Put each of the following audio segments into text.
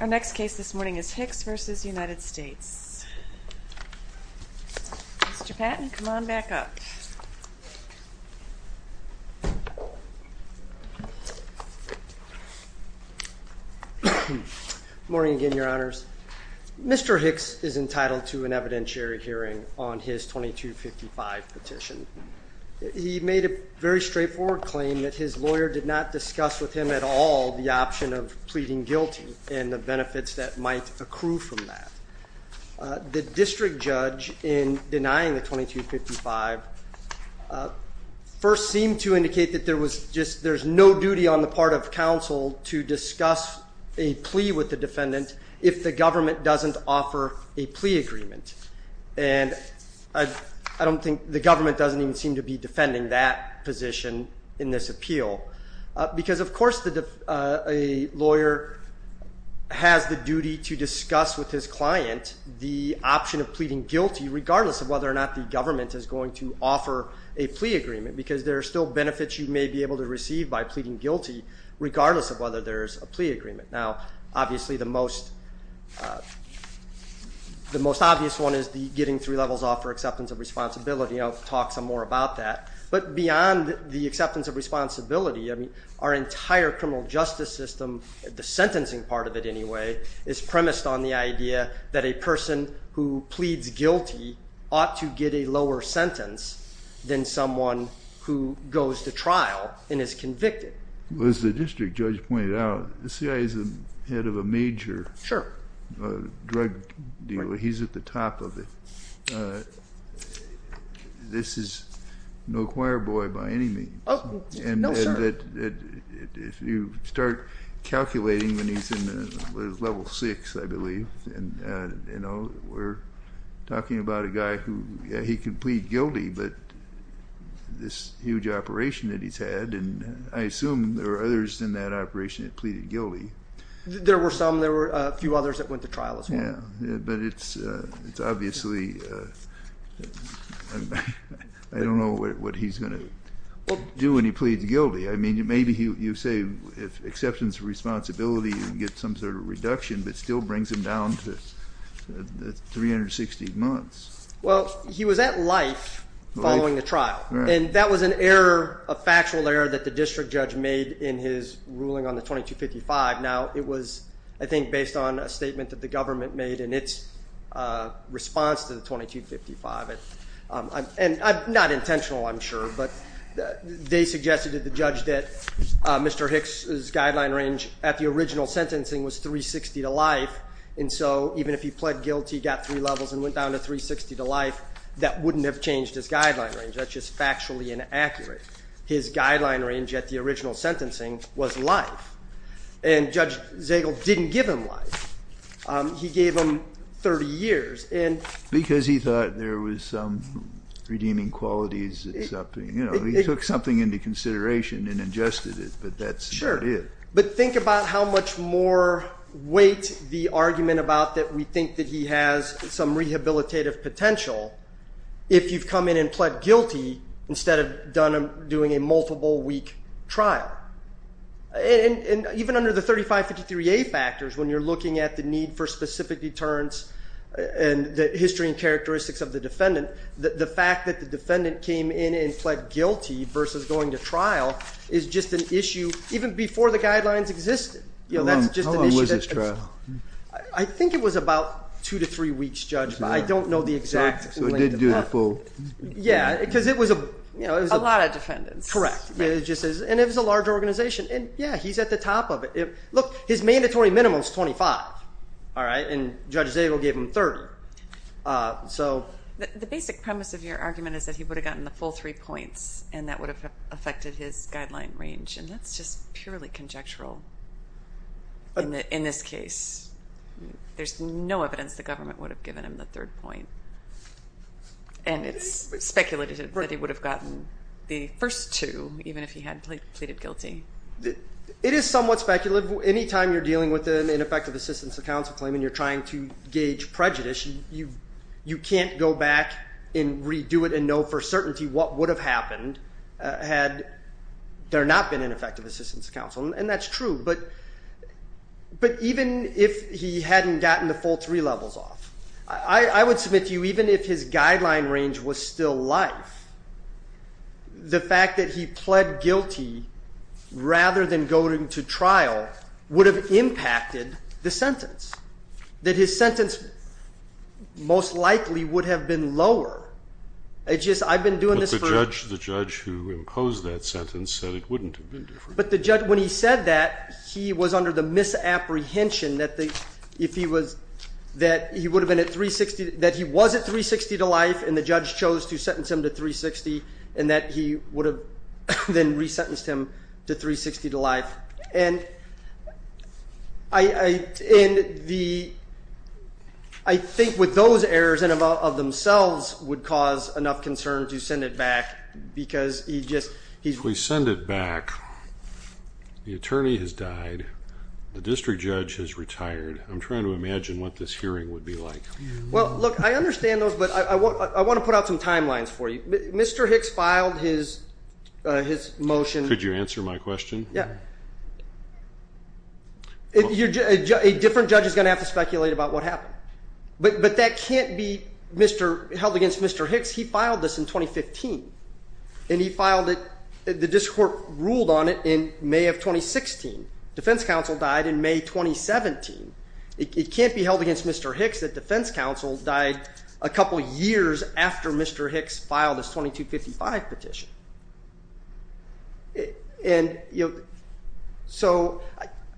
Our next case this morning is Hicks v. United States. Mr. Patton, come on back up. Good morning again, Your Honors. Mr. Hicks is entitled to an evidentiary hearing on his 2255 petition. He made a very straightforward claim that his lawyer did not discuss with him at all the option of pleading guilty and the benefits that might accrue from that. The district judge, in denying the 2255, first seemed to indicate that there's no duty on the part of counsel to discuss a plea with the defendant if the government doesn't offer a plea agreement. And I don't think the government doesn't even seem to be defending that position in this appeal because, of course, a lawyer has the duty to discuss with his client the option of pleading guilty regardless of whether or not the government is going to offer a plea agreement because there are still benefits you may be able to receive by pleading guilty regardless of whether there's a plea agreement. Now, obviously, the most obvious one is the getting three levels off for acceptance of responsibility. I'll talk some more about that. But beyond the acceptance of responsibility, our entire criminal justice system, the sentencing part of it anyway, is premised on the idea that a person who pleads guilty ought to get a lower sentence than someone who goes to trial and is convicted. As the district judge pointed out, the CIA is the head of a major drug deal. He's at the top of it. This is no choir boy by any means. No, sir. If you start calculating when he's in level six, I believe, and we're talking about a guy who, he can plead guilty, but this huge operation that he's had, and I assume there are others in that operation that pleaded guilty. There were some. There were a few others that went to trial as well. But it's obviously, I don't know what he's going to do when he pleads guilty. I mean, maybe you say if acceptance of responsibility, you can get some sort of reduction, but it still brings him down to 360 months. Well, he was at life following the trial. And that was an error, a factual error that the district judge made in his ruling on the 2255. Now, it was, I think, based on a statement that the government made in its response to the 2255. And not intentional, I'm sure, but they suggested to the judge that Mr. Hicks' guideline range at the original sentencing was 360 to life. And so even if he pled guilty, got three levels, and went down to 360 to life, that wouldn't have changed his guideline range. That's just factually inaccurate. His guideline range at the original sentencing was life. And Judge Zagel didn't give him life. He gave him 30 years. Because he thought there was some redeeming qualities. He took something into consideration and adjusted it, but that's not it. But think about how much more weight the argument about that we think that he has some rehabilitative potential if you've come in and pled guilty instead of doing a multiple-week trial. And even under the 3553A factors, when you're looking at the need for specific deterrence and the history and characteristics of the defendant, the fact that the defendant came in and pled guilty versus going to trial is just an issue even before the guidelines existed. How long was his trial? I think it was about two to three weeks, Judge. I don't know the exact length of that. So it did do the full. Yeah, because it was a lot of defendants. Correct. And it was a large organization. And, yeah, he's at the top of it. Look, his mandatory minimum is 25, all right, and Judge Zagel gave him 30. The basic premise of your argument is that he would have gotten the full three points and that would have affected his guideline range, and that's just purely conjectural in this case. There's no evidence the government would have given him the third point. And it's speculated that he would have gotten the first two even if he had pleaded guilty. It is somewhat speculative. Anytime you're dealing with an ineffective assistance of counsel claim and you're trying to gauge prejudice, you can't go back and redo it and know for certainty what would have happened had there not been an effective assistance of counsel, and that's true, but even if he hadn't gotten the full three levels off, I would submit to you even if his guideline range was still life, the fact that he pled guilty rather than going to trial would have impacted the sentence, that his sentence most likely would have been lower. It's just I've been doing this for a... But the judge who imposed that sentence said it wouldn't have been different. But the judge, when he said that, he was under the misapprehension that he was at 360 to life and the judge chose to sentence him to 360 and that he would have then resentenced him to 360 to life. And I think with those errors in and of themselves would cause enough concern to send it back because he just... If we send it back, the attorney has died, the district judge has retired. I'm trying to imagine what this hearing would be like. Well, look, I understand those, but I want to put out some timelines for you. Mr. Hicks filed his motion... Could you answer my question? Yeah. A different judge is going to have to speculate about what happened. But that can't be held against Mr. Hicks. He filed this in 2015, and he filed it, the district court ruled on it in May of 2016. Defense counsel died in May 2017. It can't be held against Mr. Hicks that defense counsel died a couple years after Mr. Hicks filed his 2255 petition. And so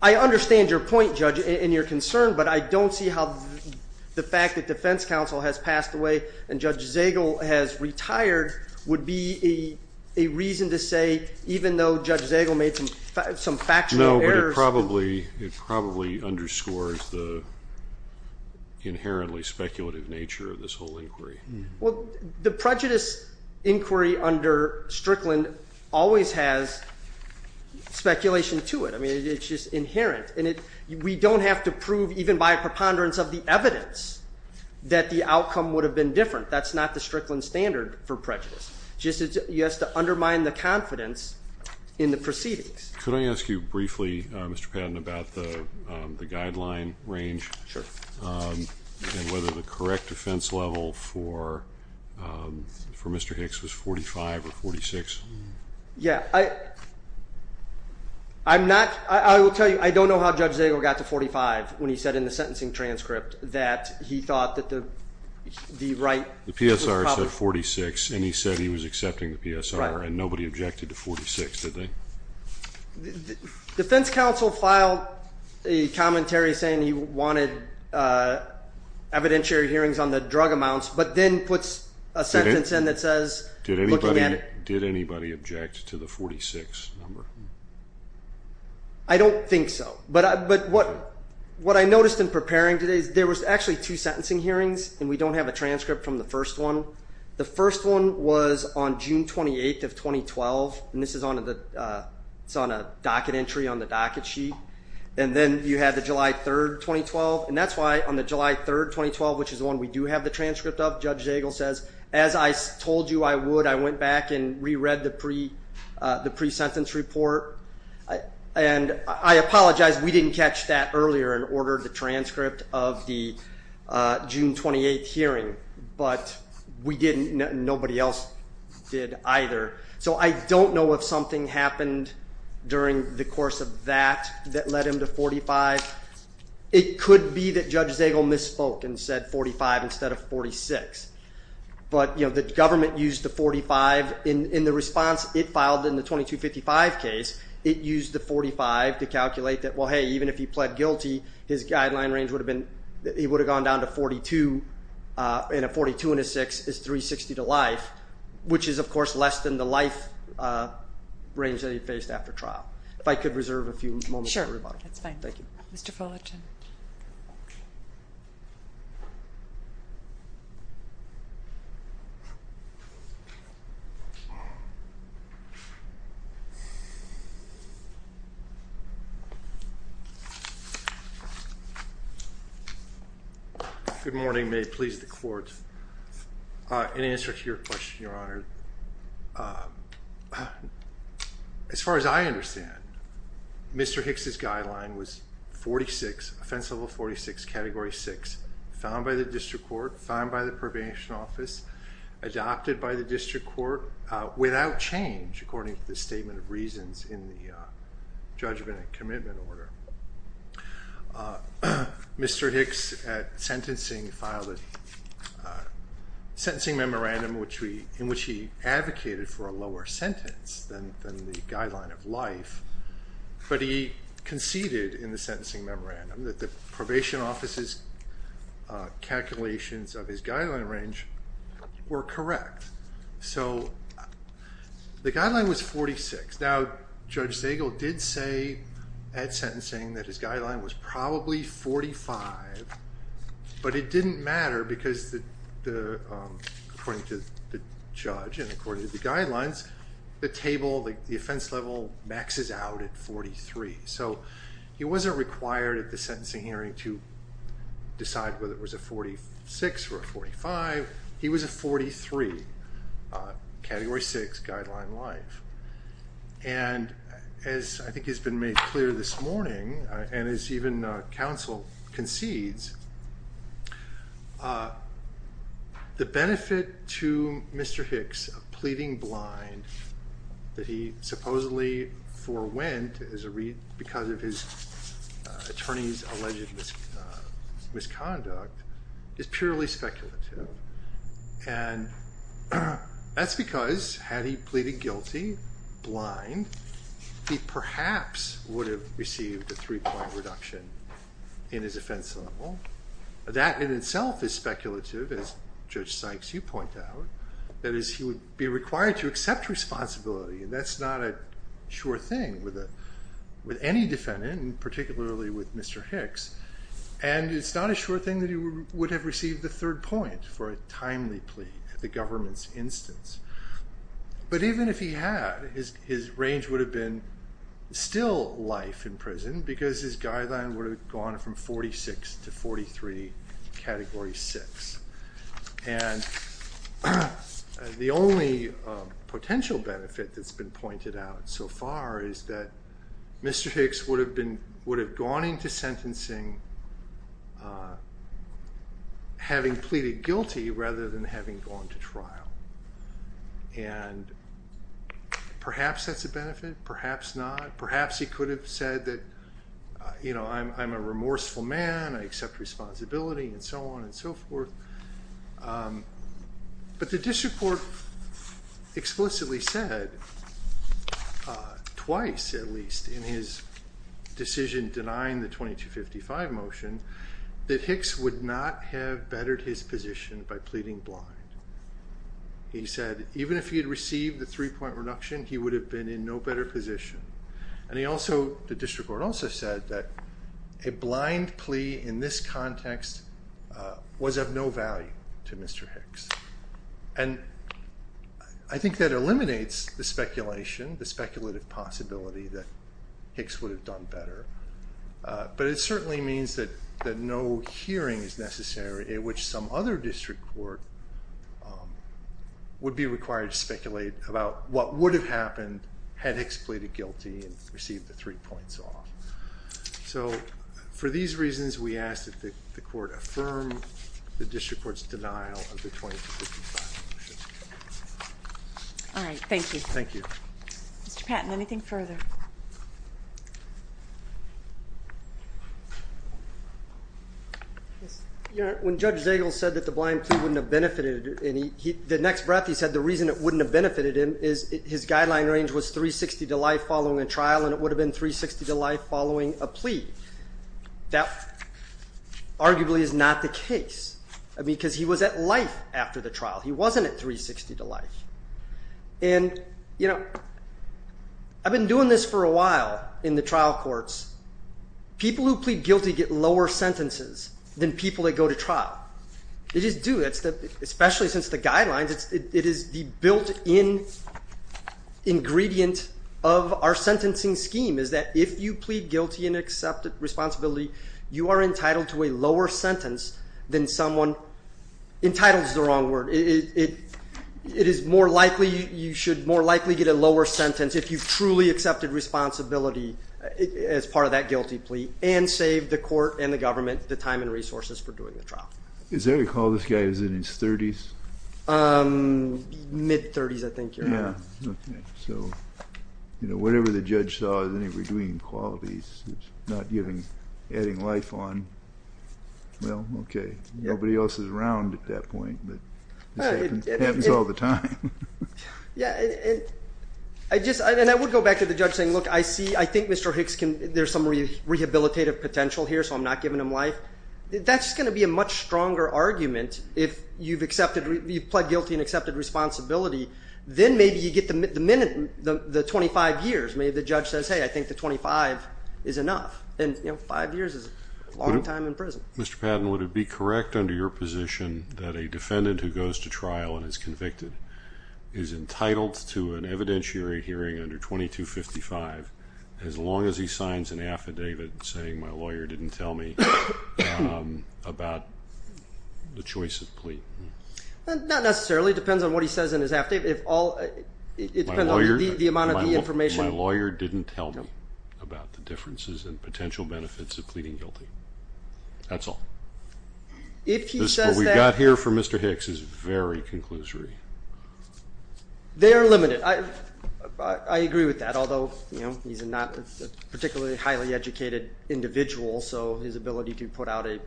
I understand your point, Judge, and your concern, but I don't see how the fact that defense counsel has passed away and Judge Zagel has retired would be a reason to say, even though Judge Zagel made some factional errors... No, but it probably underscores the inherently speculative nature of this whole inquiry. Well, the prejudice inquiry under Strickland always has speculation to it. I mean, it's just inherent. And we don't have to prove, even by a preponderance of the evidence, that the outcome would have been different. That's not the Strickland standard for prejudice. You just have to undermine the confidence in the proceedings. Could I ask you briefly, Mr. Patton, about the guideline range? Sure. And whether the correct defense level for Mr. Hicks was 45 or 46? Yeah. I will tell you, I don't know how Judge Zagel got to 45 when he said in the sentencing transcript that he thought that the right... The PSR said 46, and he said he was accepting the PSR, and nobody objected to 46, did they? Defense counsel filed a commentary saying he wanted evidentiary hearings on the drug amounts, but then puts a sentence in that says... Did anybody object to the 46 number? I don't think so. But what I noticed in preparing today is there was actually two sentencing hearings, and we don't have a transcript from the first one. The first one was on June 28th of 2012, and this is on a docket entry on the docket sheet, and then you had the July 3rd, 2012, and that's why on the July 3rd, 2012, which is the one we do have the transcript of, Judge Zagel says, as I told you I would, I went back and re-read the pre-sentence report, and I apologize, we didn't catch that earlier and ordered the transcript of the June 28th hearing, but we didn't and nobody else did either. So I don't know if something happened during the course of that that led him to 45. It could be that Judge Zagel misspoke and said 45 instead of 46, but the government used the 45 in the response it filed in the 2255 case. It used the 45 to calculate that, well, hey, even if he pled guilty, his guideline range would have gone down to 42, and a 42 and a 6 is 360 to life, which is, of course, less than the life range that he faced after trial. If I could reserve a few moments for everybody. Sure, that's fine. Thank you. Mr. Fullerton. Good morning. May it please the Court. In answer to your question, Your Honor, as far as I understand, Mr. Hicks' guideline was 46, Offense Level 46, Category 6, found by the District Court, found by the Probation Office, adopted by the District Court, without change according to the Statement of Reasons in the Judgment and Commitment Order. Mr. Hicks at sentencing filed a sentencing memorandum in which he advocated for a lower sentence than the guideline of life, but he conceded in the sentencing memorandum that the Probation Office's calculations of his guideline range were correct. So the guideline was 46. Now, Judge Zagel did say at sentencing that his guideline was probably 45, but it didn't matter because, according to the judge and according to the guidelines, the table, the offense level, maxes out at 43. So he wasn't required at the sentencing hearing to decide whether it was a 46 or a 45. He was a 43, Category 6, guideline life. And as I think has been made clear this morning, and as even counsel concedes, the benefit to Mr. Hicks of pleading blind, that he supposedly forewent because of his attorney's alleged misconduct, is purely speculative. And that's because had he pleaded guilty blind, he perhaps would have received a three-point reduction in his offense level. That in itself is speculative, as Judge Sykes, you point out. That is, he would be required to accept responsibility, and that's not a sure thing with any defendant, and particularly with Mr. Hicks. And it's not a sure thing that he would have received the third point for a timely plea at the government's instance. But even if he had, his range would have been still life in prison because his guideline would have gone from 46 to 43, Category 6. And the only potential benefit that's been pointed out so far is that Mr. Hicks would have gone into sentencing having pleaded guilty rather than having gone to trial. And perhaps that's a benefit, perhaps not. Perhaps he could have said that, you know, I'm a remorseful man, I accept responsibility, and so on and so forth. But the district court explicitly said twice, at least, in his decision denying the 2255 motion that Hicks would not have bettered his position by pleading blind. He said even if he had received the three-point reduction, he would have been in no better position. And the district court also said that a blind plea in this context was of no value to Mr. Hicks. And I think that eliminates the speculation, the speculative possibility that Hicks would have done better. But it certainly means that no hearing is necessary in which some other district court would be required to speculate about what would have happened had Hicks pleaded guilty and received the three points off. So for these reasons, we ask that the court affirm the district court's denial of the 2255 motion. All right, thank you. Thank you. Mr. Patton, anything further? When Judge Zagel said that the blind plea wouldn't have benefited, the next breath he said the reason it wouldn't have benefited him is his guideline range was 360 to life following a trial, and it would have been 360 to life following a plea. That arguably is not the case because he was at life after the trial. He wasn't at 360 to life. And, you know, I've been doing this for a while in the trial courts. People who plead guilty get lower sentences than people that go to trial. It is due, especially since the guidelines, it is the built-in ingredient of our sentencing scheme, is that if you plead guilty and accept responsibility, you are entitled to a lower sentence than someone entitled is the wrong word. It is more likely you should more likely get a lower sentence if you've truly accepted responsibility as part of that guilty plea and saved the court and the government the time and resources for doing the trial. Is there a call this guy is in his 30s? Mid-30s, I think. Yeah. Okay. So, you know, whatever the judge saw, then if you're doing qualities that's not giving, adding life on, well, okay. Nobody else is around at that point, but this happens all the time. Yeah, and I would go back to the judge saying, look, I see, I think Mr. Hicks can, there's some rehabilitative potential here, so I'm not giving him life. That's going to be a much stronger argument if you've pled guilty and accepted responsibility, then maybe you get the 25 years. Maybe the judge says, hey, I think the 25 is enough. And, you know, five years is a long time in prison. Mr. Patton, would it be correct under your position that a defendant who goes to trial and is convicted is entitled to an evidentiary hearing under 2255 as long as he signs an affidavit saying my lawyer didn't tell me about the choice of plea? Not necessarily. It depends on what he says in his affidavit. It depends on the amount of the information. My lawyer didn't tell me about the differences and potential benefits of pleading guilty. That's all. What we've got here for Mr. Hicks is very conclusory. They are limited. I agree with that, although, you know, he's a particularly highly educated individual, so his ability to put out a skill.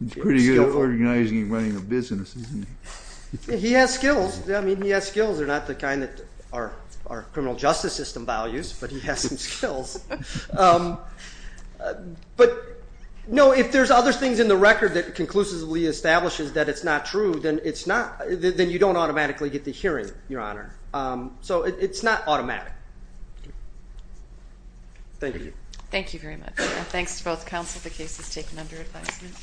He's pretty good at organizing and running a business, isn't he? He has skills. I mean, he has skills. They're not the kind that our criminal justice system values, but he has some skills. But, no, if there's other things in the record that conclusively establishes that it's not true, then you don't automatically get the hearing, Your Honor. So it's not automatic. Thank you. Thank you very much. Thanks to both counsel. The case is taken under advisement.